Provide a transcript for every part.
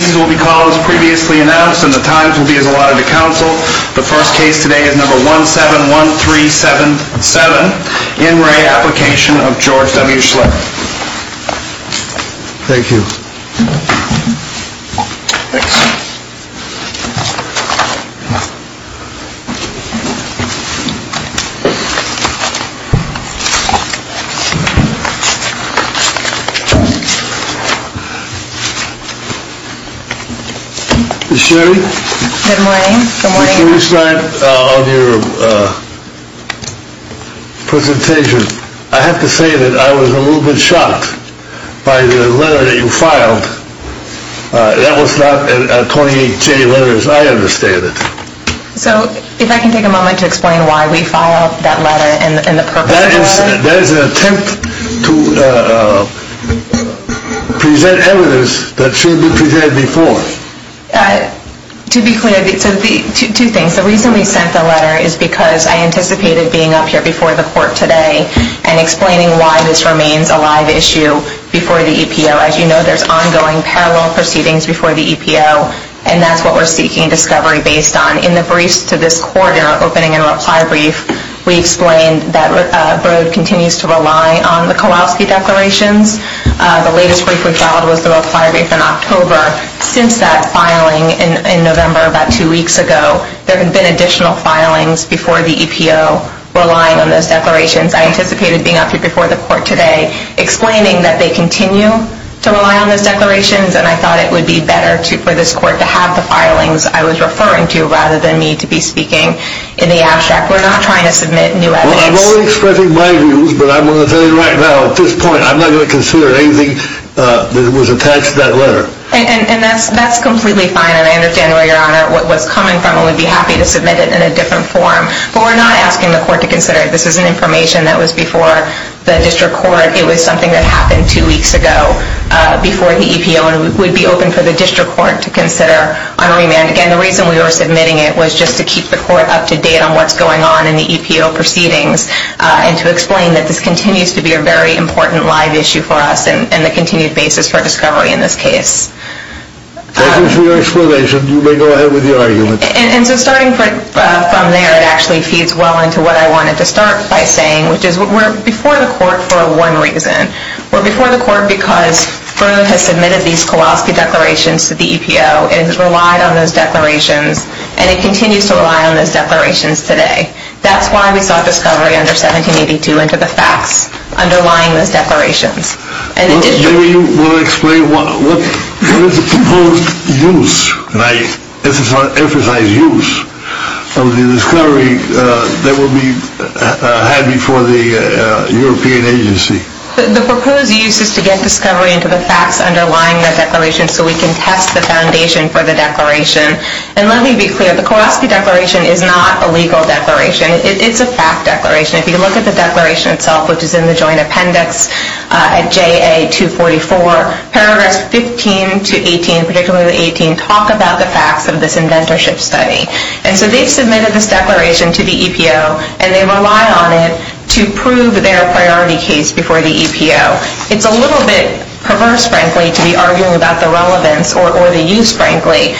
This will be called as previously announced and the times will be as allotted to council. The first case today is number 171377. In re. Application of George W Schlich. Thank you. Thanks. Ms. Sherry. Good morning. Ms. Sherry Schneid on your presentation. I have to say that I was a little bit shocked by the letter that you filed. That was not a 28J letter as I understand it. So if I can take a moment to explain why we filed that letter and the purpose of the letter. That is an attempt to present evidence that should be presented before. To be clear, two things. The reason we sent the letter is because I anticipated being up here before the court today and explaining why this remains a live issue before the EPO. As you know, there's ongoing parallel proceedings before the EPO and that's what we're seeking discovery based on. In the briefs to this quarter, opening and reply brief, we explained that Broad continues to rely on the Kowalski declarations. The latest brief we filed was the reply brief in October. Since that filing in November about two weeks ago, there have been additional filings before the EPO relying on those declarations. I anticipated being up here before the court today, explaining that they continue to rely on those declarations and I thought it would be better for this court to have the filings I was referring to rather than me to be speaking in the abstract. We're not trying to submit new evidence. Well, I'm only expressing my views, but I'm going to tell you right now, at this point, I'm not going to consider anything that was attached to that letter. And that's completely fine and I understand, Your Honor, what was coming from and would be happy to submit it in a different form. But we're not asking the court to consider it. This is an information that was before the district court. It was something that happened two weeks ago before the EPO and it would be open for the district court to consider on remand. And again, the reason we were submitting it was just to keep the court up to date on what's going on in the EPO proceedings and to explain that this continues to be a very important live issue for us and the continued basis for discovery in this case. Thank you for your explanation. You may go ahead with your argument. And so starting from there, it actually feeds well into what I wanted to start by saying, which is we're before the court for one reason. We're before the court because BRU has submitted these Kowalski declarations to the EPO and has relied on those declarations and it continues to rely on those declarations today. That's why we sought discovery under 1782 into the facts underlying those declarations. And in addition... Maybe you want to explain what is the proposed use, and I emphasize use, of the discovery that will be had before the European agency. The proposed use is to get discovery into the facts underlying the declarations so we can test the foundation for the declaration. And let me be clear, the Kowalski declaration is not a legal declaration. It's a fact declaration. If you look at the declaration itself, which is in the joint appendix at JA-244, paragraphs 15 to 18, particularly the 18, talk about the facts of this inventorship study. And so they've submitted this declaration to the EPO and they rely on it to prove their priority case before the EPO. It's a little bit perverse, frankly, to be arguing about the relevance or the use, frankly,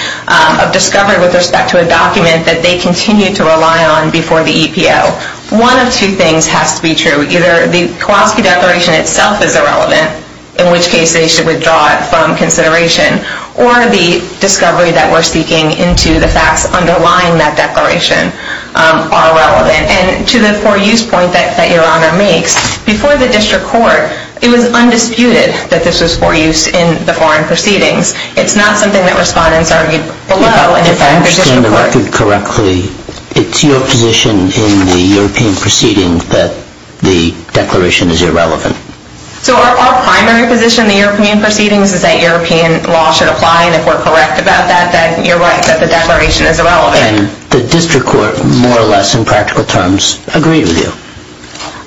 of discovery with respect to a document that they continue to rely on before the EPO. One of two things has to be true. Either the Kowalski declaration itself is irrelevant, in which case they should withdraw it from consideration, or the discovery that we're seeking into the facts underlying that declaration are relevant. And to the for-use point that Your Honor makes, before the district court, it was undisputed that this was for use in the foreign proceedings. It's not something that respondents argued below. If I understand the record correctly, it's your position in the European proceedings that the declaration is irrelevant. So our primary position in the European proceedings is that European law should apply, and if we're correct about that, then you're right, that the declaration is irrelevant. And the district court, more or less in practical terms, agreed with you?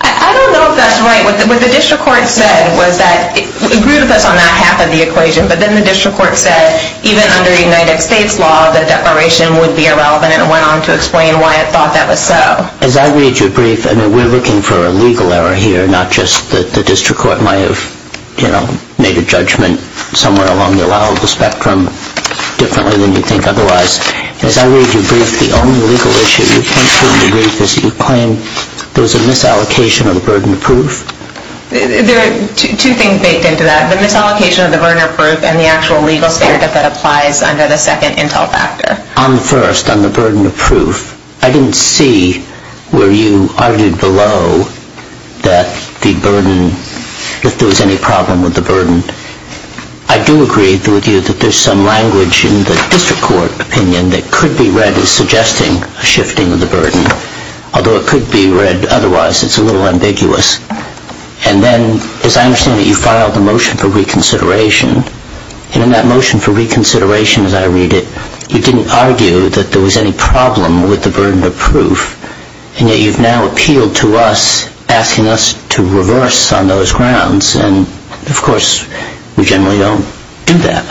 I don't know if that's right. What the district court said was that it agreed with us on that half of the equation, but then the district court said, even under United States law, the declaration would be irrelevant, and it went on to explain why it thought that was so. As I read your brief, I know we're looking for a legal error here, not just that the district court might have made a judgment somewhere along the spectrum differently than you think otherwise. As I read your brief, the only legal issue you came to in the brief is that you claim there was a misallocation of the burden of proof. There are two things baked into that, the misallocation of the burden of proof and the actual legal standard that applies under the second intel factor. On the first, on the burden of proof, I didn't see where you argued below that there was any problem with the burden. I do agree with you that there's some language in the district court opinion that could be read as suggesting a shifting of the burden, although it could be read otherwise. It's a little ambiguous. And then, as I understand it, you filed a motion for reconsideration, and in that motion for reconsideration, as I read it, you didn't argue that there was any problem with the burden of proof, and yet you've now appealed to us, asking us to reverse on those grounds. And, of course, we generally don't do that.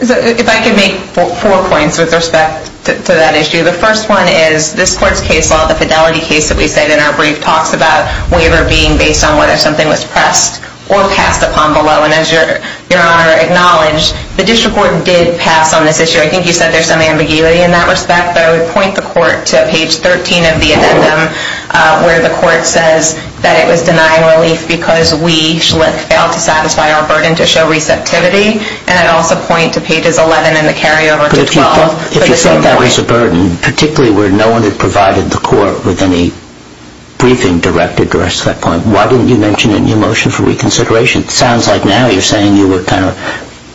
If I could make four points with respect to that issue. The first one is this court's case law, the fidelity case that we said in our brief, talks about waiver being based on whether something was pressed or passed upon below. And as Your Honor acknowledged, the district court did pass on this issue. I think you said there's some ambiguity in that respect, but I would point the court to page 13 of the addendum, where the court says that it was denying relief because we, Schlick, failed to satisfy our burden to show receptivity. And I'd also point to pages 11 and the carryover to 12. But if you thought that was a burden, particularly where no one had provided the court with any briefing directed to us at that point, why didn't you mention it in your motion for reconsideration? It sounds like now you're saying you were kind of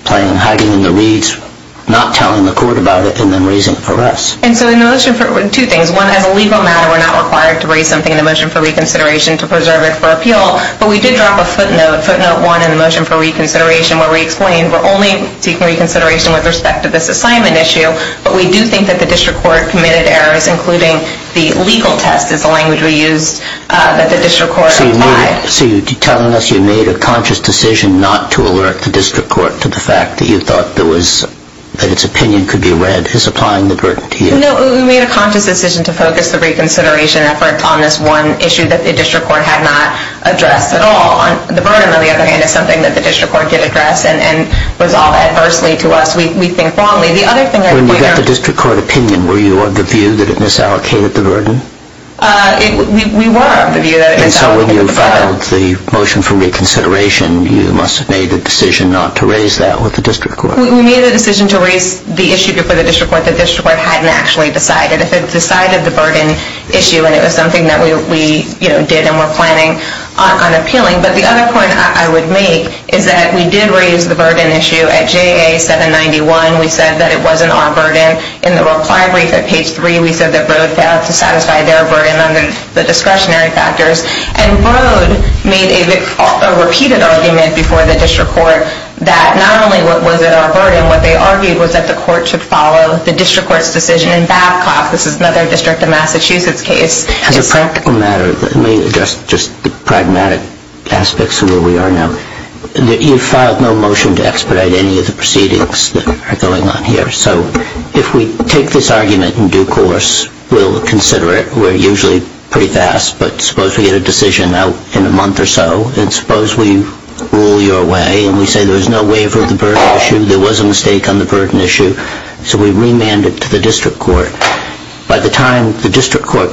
playing hiding in the reeds, not telling the court about it, and then raising it for us. Two things. One, as a legal matter, we're not required to raise something in the motion for reconsideration to preserve it for appeal, but we did drop a footnote, footnote one, in the motion for reconsideration where we explained we're only taking reconsideration with respect to this assignment issue, but we do think that the district court committed errors, including the legal test is the language we used, that the district court applied. So you're telling us you made a conscious decision not to alert the district court to the fact that you thought that its opinion could be read as applying the burden to you? No, we made a conscious decision to focus the reconsideration effort on this one issue that the district court had not addressed at all. The burden, on the other hand, is something that the district court did address and was all adversely to us. We think wrongly. When you got the district court opinion, were you of the view that it misallocated the burden? We were of the view that it misallocated the burden. And so when you filed the motion for reconsideration, you must have made a decision not to raise that with the district court. We made a decision to raise the issue before the district court that the district court hadn't actually decided. If it decided the burden issue, and it was something that we did and were planning on appealing. But the other point I would make is that we did raise the burden issue at JA 791. We said that it wasn't our burden. In the reply brief at page 3, we said that Broad failed to satisfy their burden under the discretionary factors. And Broad made a repeated argument before the district court that not only was it our burden, what they argued was that the court should follow the district court's decision in Babcock. This is another district in Massachusetts case. As a practical matter, let me address just the pragmatic aspects of where we are now. You filed no motion to expedite any of the proceedings that are going on here. So if we take this argument in due course, we'll consider it. We're usually pretty fast, but suppose we get a decision out in a month or so. And suppose we rule your way and we say there's no waiver of the burden issue. There was a mistake on the burden issue. So we remand it to the district court. By the time the district court,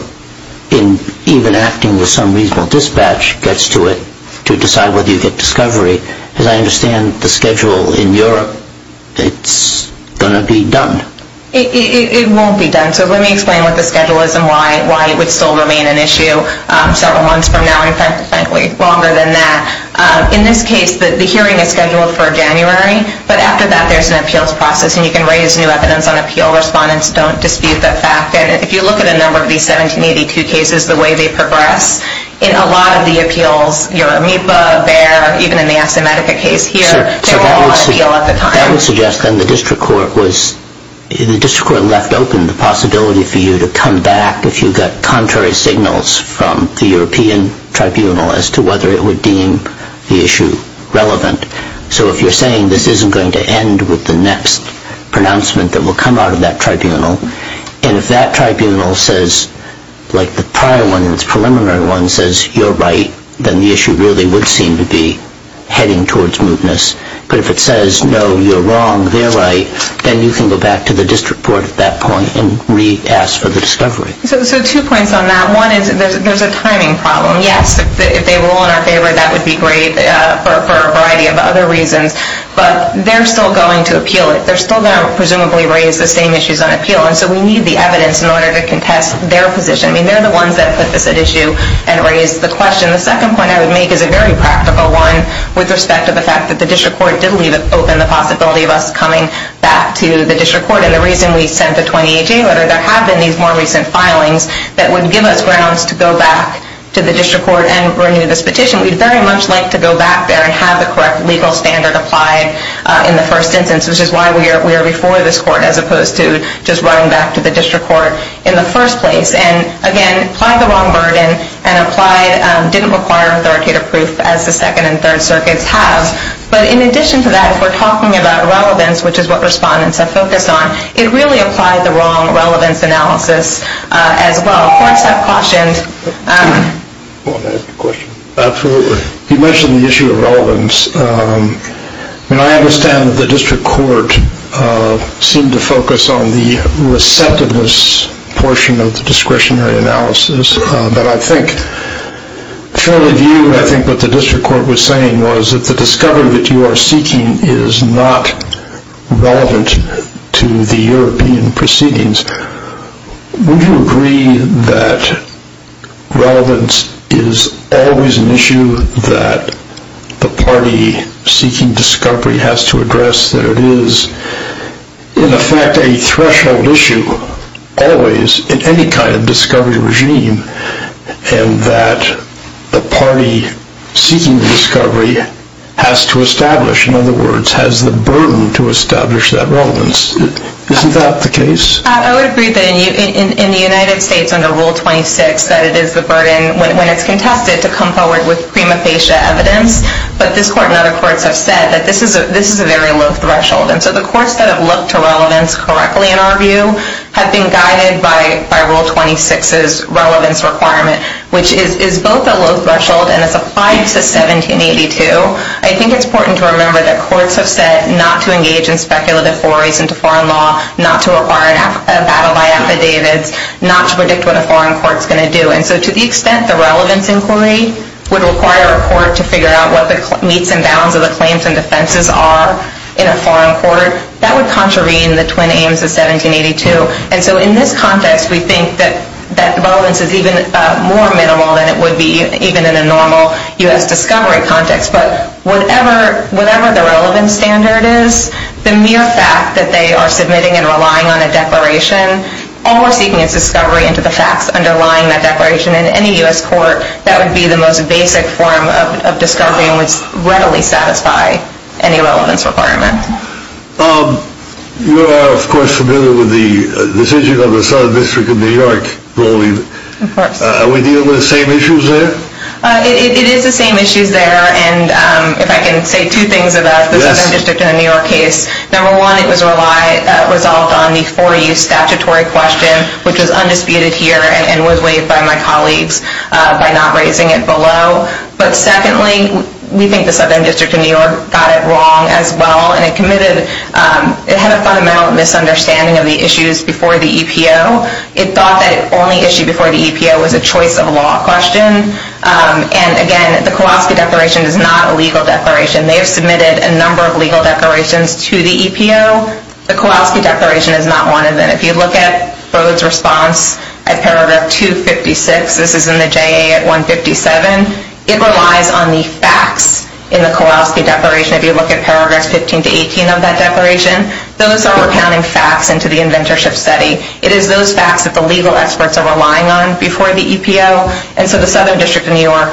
in even acting with some reasonable dispatch, gets to it to decide whether you get discovery, as I understand the schedule in Europe, it's going to be done. It won't be done. So let me explain what the schedule is and why it would still remain an issue several months from now, in fact, frankly, longer than that. In this case, the hearing is scheduled for January, but after that there's an appeals process and you can raise new evidence on appeal. Respondents don't dispute that fact. And if you look at a number of these 1782 cases, the way they progress, in a lot of the appeals, Euromipa, Bayer, even in the Asimetica case here, they were all on appeal at the time. That would suggest then the district court was, the district court left open the possibility for you to come back if you got contrary signals from the European tribunal as to whether it would deem the issue relevant. So if you're saying this isn't going to end with the next pronouncement that will come out of that tribunal, and if that tribunal says, like the prior one, the preliminary one, says you're right, then the issue really would seem to be heading towards mootness. But if it says, no, you're wrong, they're right, then you can go back to the district court at that point and re-ask for the discovery. So two points on that. One is there's a timing problem. Yes, if they rule in our favor, that would be great for a variety of other reasons, but they're still going to appeal it. They're still going to presumably raise the same issues on appeal, and so we need the evidence in order to contest their position. I mean, they're the ones that put this at issue and raised the question. The second point I would make is a very practical one with respect to the fact that the district court did leave open the possibility of us coming back to the district court, and the reason we sent the 2018 letter, there have been these more recent filings that would give us grounds to go back to the district court and bring in this petition. We'd very much like to go back there and have the correct legal standard applied in the first instance, which is why we are before this court as opposed to just running back to the district court in the first place. And, again, applied the wrong burden and didn't require authoritative proof as the Second and Third Circuits have. But in addition to that, if we're talking about relevance, which is what respondents have focused on, it really applied the wrong relevance analysis as well. Courts have cautioned. Absolutely. You mentioned the issue of relevance. I understand that the district court seemed to focus on the receptiveness portion of the discretionary analysis. But I think what the district court was saying was that the discovery that you are seeking is not relevant to the European proceedings. Would you agree that relevance is always an issue that the party seeking discovery has to address, that it is in effect a threshold issue always in any kind of discovery regime, and that the party seeking the discovery has to establish, in other words, has the burden to establish that relevance? Isn't that the case? I would agree that in the United States under Rule 26 that it is the burden when it's contested to come forward with prima facie evidence. But this court and other courts have said that this is a very low threshold. And so the courts that have looked to relevance correctly, in our view, have been guided by Rule 26's relevance requirement, which is both a low threshold and is applied to 1782. I think it's important to remember that courts have said not to engage in speculative forays into foreign law, not to require a battle by affidavits, not to predict what a foreign court is going to do. And so to the extent the relevance inquiry would require a court to figure out what the meets and bounds of the claims and defenses are in a foreign court, that would contravene the twin aims of 1782. And so in this context we think that that relevance is even more minimal than it would be even in a normal U.S. discovery context. But whatever the relevance standard is, the mere fact that they are submitting and relying on a declaration, or seeking its discovery into the facts underlying that declaration, in any U.S. court that would be the most basic form of discovery would readily satisfy any relevance requirement. You are, of course, familiar with the decision of the Southern District of New York ruling. Of course. Are we dealing with the same issues there? It is the same issues there. And if I can say two things about the Southern District of New York case, number one, it was resolved on the 4U statutory question, which was undisputed here and was waived by my colleagues by not raising it below. But secondly, we think the Southern District of New York got it wrong as well. And it committed, it had a fundamental misunderstanding of the issues before the EPO. It thought that the only issue before the EPO was a choice of law question. And again, the Kowalski Declaration is not a legal declaration. They have submitted a number of legal declarations to the EPO. The Kowalski Declaration is not one of them. If you look at Bode's response at paragraph 256, this is in the JA at 157, it relies on the facts in the Kowalski Declaration. If you look at paragraphs 15 to 18 of that declaration, those are recounting facts into the inventorship study. It is those facts that the legal experts are relying on before the EPO. And so the Southern District of New York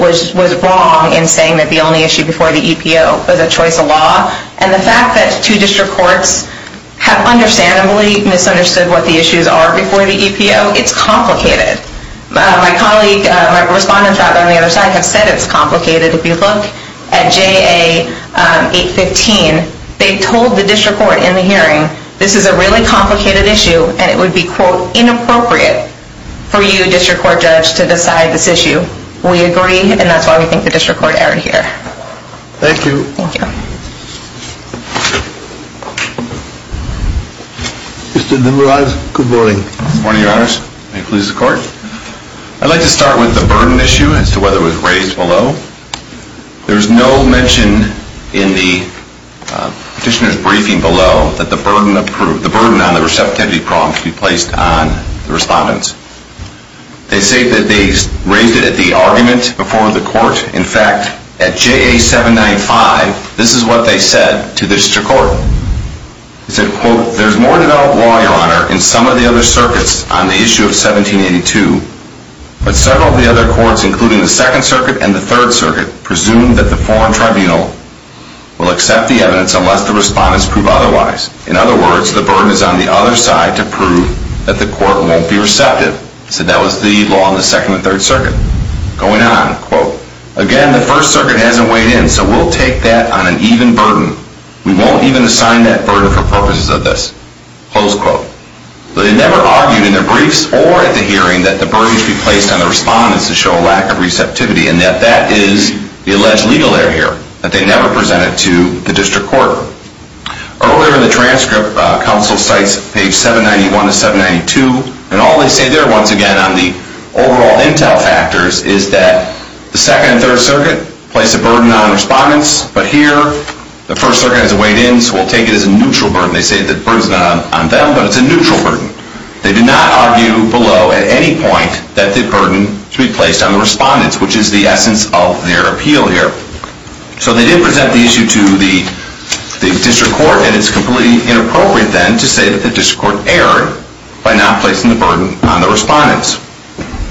was wrong in saying that the only issue before the EPO was a choice of law. And the fact that two district courts have understandably misunderstood what the issues are before the EPO, it's complicated. My colleague, my respondents out there on the other side have said it's complicated. If you look at JA 815, they told the district court in the hearing this is a really complicated issue and it would be, quote, inappropriate for you, district court judge, to decide this issue. We agree, and that's why we think the district court erred here. Thank you. Thank you. Mr. Nimrod, good morning. Good morning, Your Honors. May it please the court. I'd like to start with the burden issue as to whether it was raised below. There's no mention in the petitioner's briefing below that the burden approved, the burden on the receptivity problem should be placed on the respondents. They say that they raised it at the argument before the court. In fact, at JA 795, this is what they said to the district court. They said, quote, there's more developed law, Your Honor, in some of the other circuits on the issue of 1782, but several of the other courts, including the Second Circuit and the Third Circuit, presume that the foreign tribunal will accept the evidence unless the respondents prove otherwise. In other words, the burden is on the other side to prove that the court won't be receptive. They said that was the law in the Second and Third Circuit. Going on, quote, again, the First Circuit hasn't weighed in, so we'll take that on an even burden. We won't even assign that burden for purposes of this. Close quote. They never argued in their briefs or at the hearing that the burden should be placed on the respondents to show a lack of receptivity and that that is the alleged legal error here that they never presented to the district court. Earlier in the transcript, counsel cites page 791 to 792, and all they say there, once again, on the overall intel factors, is that the Second and Third Circuit place a burden on respondents, but here the First Circuit hasn't weighed in, so we'll take it as a neutral burden. They say the burden's not on them, but it's a neutral burden. They did not argue below at any point that the burden should be placed on the respondents, which is the essence of their appeal here. So they did present the issue to the district court, and it's completely inappropriate, then, to say that the district court erred by not placing the burden on the respondents.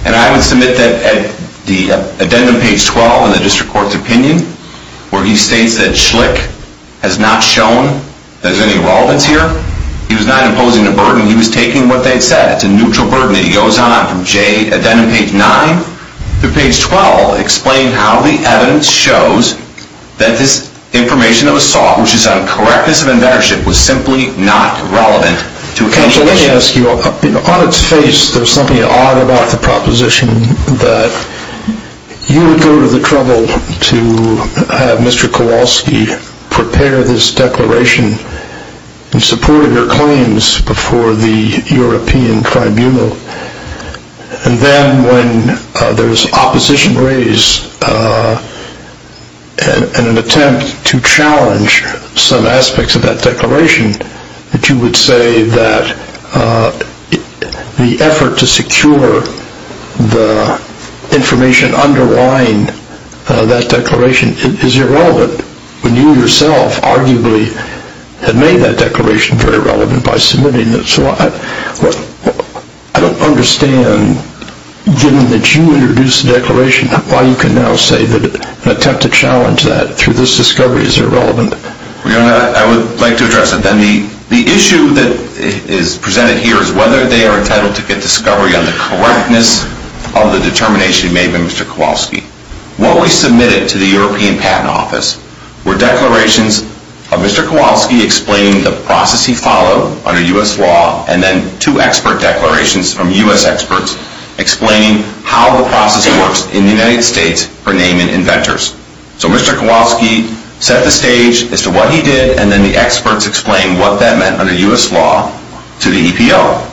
And I would submit that at the addendum page 12 in the district court's opinion, where he states that Schlich has not shown that there's any relevance here, he was not imposing a burden. He was taking what they said. It's a neutral burden that he goes on from J, addendum page 9 to page 12, explaining how the evidence shows that this information that was sought, which is out of correctness of inventorship, was simply not relevant to a case. So let me ask you, on its face, there's something odd about the proposition that you would go to the trouble to have Mr. Kowalski prepare this declaration in support of your claims before the European Tribunal, and then when there's opposition raised in an attempt to challenge some aspects of that declaration, that you would say that the effort to secure the information underlying that declaration is irrelevant, when you yourself, arguably, had made that declaration very relevant by submitting it. So I don't understand, given that you introduced the declaration, why you can now say that an attempt to challenge that through this discovery is irrelevant. I would like to address it then. The issue that is presented here is whether they are entitled to get discovery on the correctness of the determination made by Mr. Kowalski. What we submitted to the European Patent Office were declarations of Mr. Kowalski explaining the process he followed under U.S. law, and then two expert declarations from U.S. experts explaining how the process works in the United States for naming inventors. So Mr. Kowalski set the stage as to what he did, and then the experts explained what that meant under U.S. law to the EPO.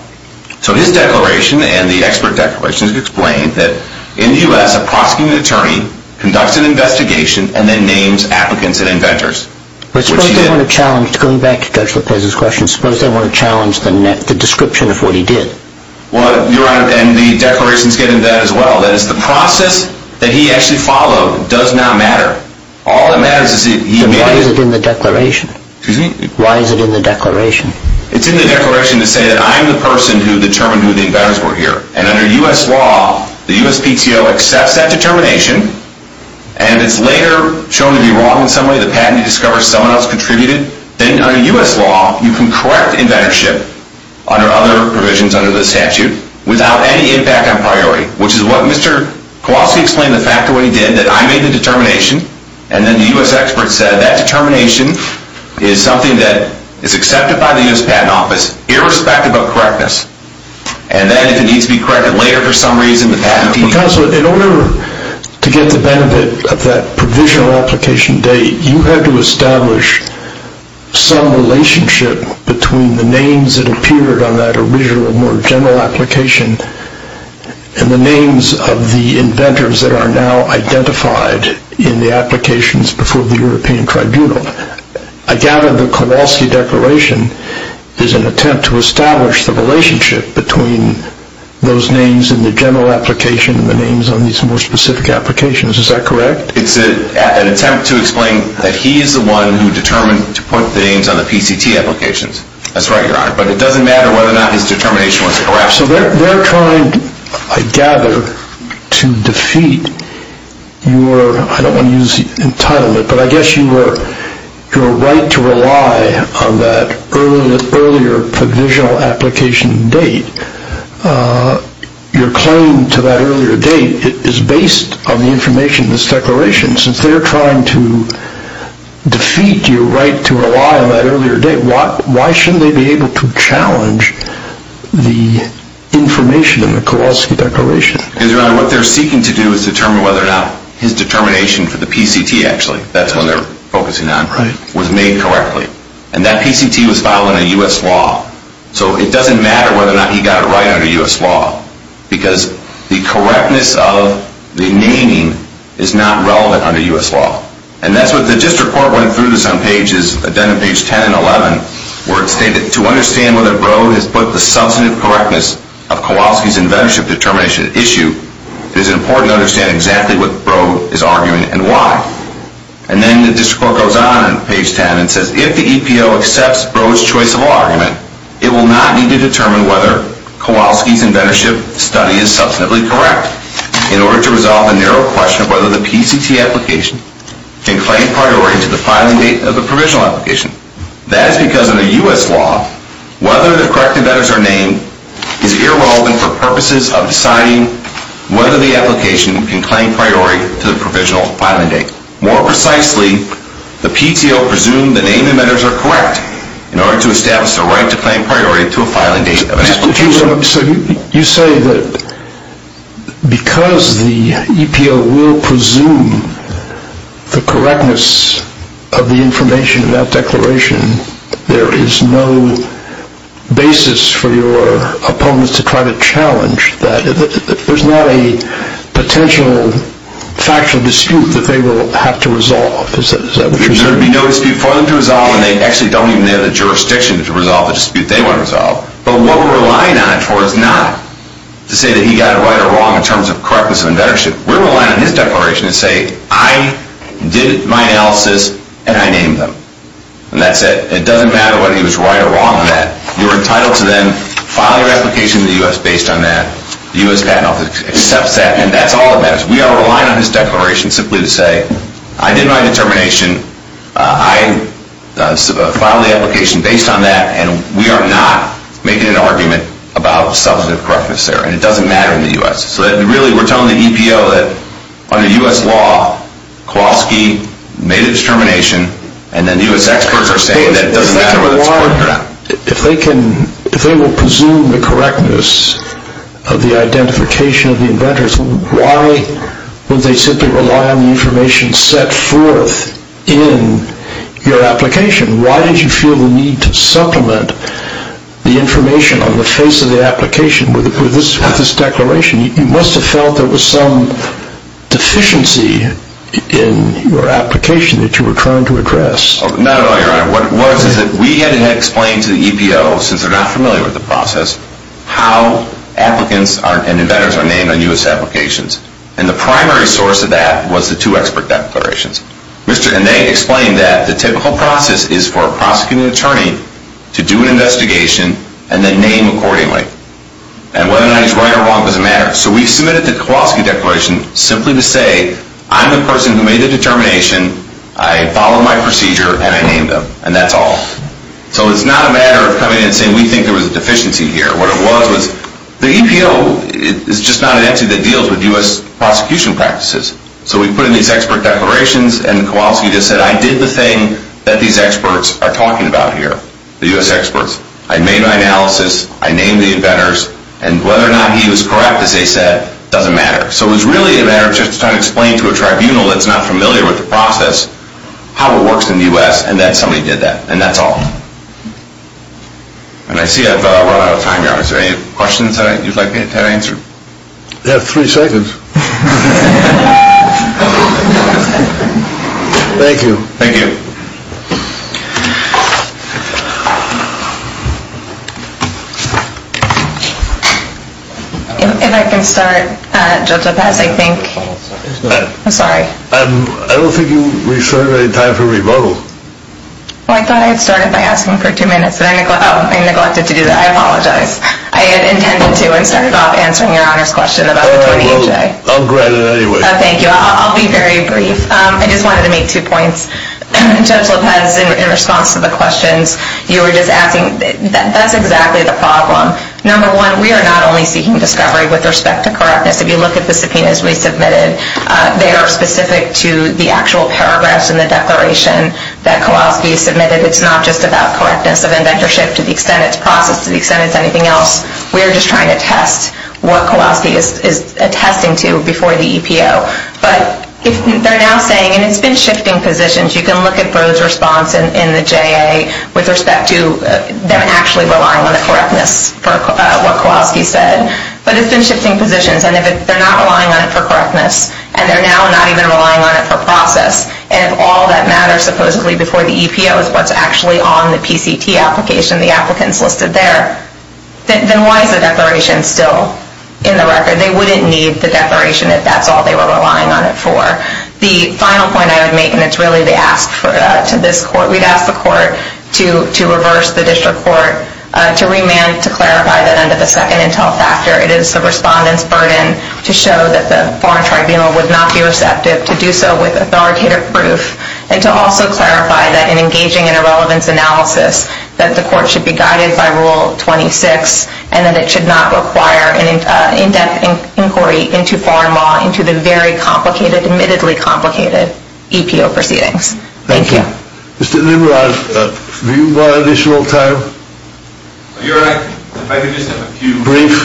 So his declaration and the expert declarations explain that in the U.S., a prosecuting attorney conducts an investigation and then names applicants and inventors. But suppose they want to challenge, going back to Judge Lopez's question, suppose they want to challenge the description of what he did. Well, Your Honor, and the declarations get into that as well. That is, the process that he actually followed does not matter. All that matters is that he made it. Then why is it in the declaration? Excuse me? Why is it in the declaration? It's in the declaration to say that I'm the person who determined who the inventors were here. And under U.S. law, the USPTO accepts that determination, and it's later shown to be wrong in some way. The patent discovers someone else contributed. Then under U.S. law, you can correct inventorship under other provisions under the statute without any impact on priority, which is what Mr. Kowalski explained the fact of what he did, that I made the determination, and then the U.S. experts said that determination is something that is accepted by the U.S. Patent Office irrespective of correctness. And then if it needs to be corrected later for some reason, because in order to get the benefit of that provisional application date, you had to establish some relationship between the names that appeared on that original more general application and the names of the inventors that are now identified in the applications before the European Tribunal. I gather the Kowalski declaration is an attempt to establish the relationship between those names in the general application and the names on these more specific applications. Is that correct? It's an attempt to explain that he is the one who determined to put the names on the PCT applications. That's right, Your Honor. But it doesn't matter whether or not his determination was correct. So they're trying, I gather, to defeat your, I don't want to use the title, but I guess your right to rely on that earlier provisional application date, your claim to that earlier date is based on the information in this declaration. Since they're trying to defeat your right to rely on that earlier date, why shouldn't they be able to challenge the information in the Kowalski declaration? Because, Your Honor, what they're seeking to do is determine whether or not his determination for the PCT, actually, that's what they're focusing on, was made correctly. And that PCT was filed under U.S. law. So it doesn't matter whether or not he got it right under U.S. law because the correctness of the naming is not relevant under U.S. law. And that's what the district court went through this on pages 10 and 11 where it stated, to understand whether Broad has put the substantive correctness of Kowalski's inventorship determination at issue, it is important to understand exactly what Broad is arguing and why. And then the district court goes on in page 10 and says, if the EPO accepts Broad's choice of argument, it will not need to determine whether Kowalski's inventorship study is substantively correct in order to resolve the narrow question of whether the PCT application can claim priority to the filing date of the provisional application. That is because under U.S. law, whether the correct inventors are named is irrelevant for purposes of deciding whether the application can claim priority to the provisional filing date. More precisely, the PTO presumed the name inventors are correct in order to establish the right to claim priority to a filing date of an application. So you say that because the EPO will presume the correctness of the information in that declaration, there is no basis for your opponents to try to challenge that. There's not a potential factual dispute that they will have to resolve. Is that what you're saying? There would be no dispute for them to resolve, and they actually don't even have the jurisdiction to resolve the dispute they want to resolve. But what we're relying on it for is not to say that he got it right or wrong in terms of correctness of inventorship. We're relying on his declaration to say, I did my analysis, and I named them. And that's it. It doesn't matter whether he was right or wrong in that. You're entitled to then file your application to the U.S. based on that. The U.S. Patent Office accepts that, and that's all that matters. We are relying on his declaration simply to say, I did my determination. I filed the application based on that, and we are not making an argument about substantive correctness there. And it doesn't matter in the U.S. So really, we're telling the EPO that under U.S. law, Kowalski made a determination, and then U.S. experts are saying that it doesn't matter whether it's correct or not. If they will presume the correctness of the identification of the inventors, why would they simply rely on the information set forth in your application? Why did you feel the need to supplement the information on the face of the application with this declaration? You must have felt there was some deficiency in your application that you were trying to address. Not at all, Your Honor. What it was is that we had explained to the EPO, since they're not familiar with the process, how applicants and inventors are named on U.S. applications. And the primary source of that was the two expert declarations. And they explained that the typical process is for a prosecuting attorney to do an investigation and then name accordingly. And whether or not he's right or wrong doesn't matter. So we submitted the Kowalski declaration simply to say, I'm the person who made the determination, I followed my procedure, and I named them. And that's all. So it's not a matter of coming in and saying we think there was a deficiency here. What it was was the EPO is just not an entity that deals with U.S. prosecution practices. So we put in these expert declarations and Kowalski just said, I did the thing that these experts are talking about here, the U.S. experts. I made my analysis, I named the inventors, and whether or not he was correct, as they said, doesn't matter. So it was really a matter of just trying to explain to a tribunal that's not familiar with the process how it works in the U.S. and that somebody did that. And that's all. And I see I've run out of time. Are there any questions that you'd like me to answer? You have three seconds. Thank you. Thank you. If I can start, Judge LaPaz, I think. I'm sorry. I don't think we've served any time for rebuttal. Well, I thought I had started by asking for two minutes, and I neglected to do that. I apologize. I had intended to and started off answering your Honor's question about the 20 HA. I'll grant it anyway. Thank you. I'll be very brief. I just wanted to make two points. Judge LaPaz, in response to the questions, you were just asking, that's exactly the problem. Number one, we are not only seeking discovery with respect to correctness. If you look at the subpoenas we submitted, they are specific to the actual paragraphs in the declaration that Kowalski submitted. It's not just about correctness of indentureship to the extent it's processed, to the extent it's anything else. We're just trying to test what Kowalski is attesting to before the EPO. But they're now saying, and it's been shifting positions. You can look at Brode's response in the JA with respect to them actually relying on the correctness for what Kowalski said. But it's been shifting positions. And if they're not relying on it for correctness, and they're now not even relying on it for process, and if all that matters supposedly before the EPO is what's actually on the PCT application, the applicants listed there, then why is the declaration still in the record? They wouldn't need the declaration if that's all they were relying on it for. The final point I would make, and it's really the ask to this court, we'd ask the court to reverse the district court, to remand, to clarify that under the second intel factor it is the respondent's burden to show that the foreign tribunal would not be receptive, to do so with authoritative proof, and to also clarify that in engaging in a relevance analysis that the court should be guided by Rule 26 and that it should not require an in-depth inquiry into foreign law into the very complicated, admittedly complicated EPO proceedings. Thank you. Mr. Nimrod, have you got additional time? You're right. If I could just have a few briefs.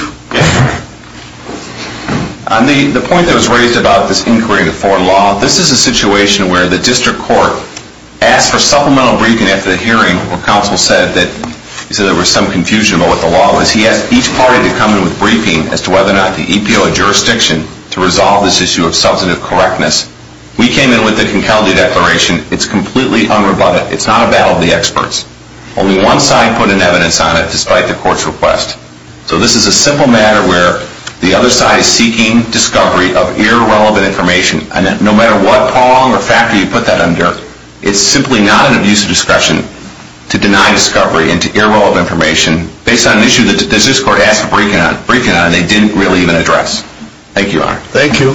On the point that was raised about this inquiry into foreign law, this is a situation where the district court asked for supplemental briefing after the hearing where counsel said that there was some confusion about what the law was. He asked each party to come in with a briefing as to whether or not the EPO had jurisdiction to resolve this issue of substantive correctness. We came in with the Concalde Declaration. It's completely unrebutted. It's not a battle of the experts. Only one side put an evidence on it, despite the court's request. So this is a simple matter where the other side is seeking discovery of irrelevant information. And no matter what prong or factor you put that under, it's simply not an abuse of discretion to deny discovery into irrelevant information based on an issue that the district court asked for briefing on, and they didn't really even address. Thank you, Your Honor. Thank you.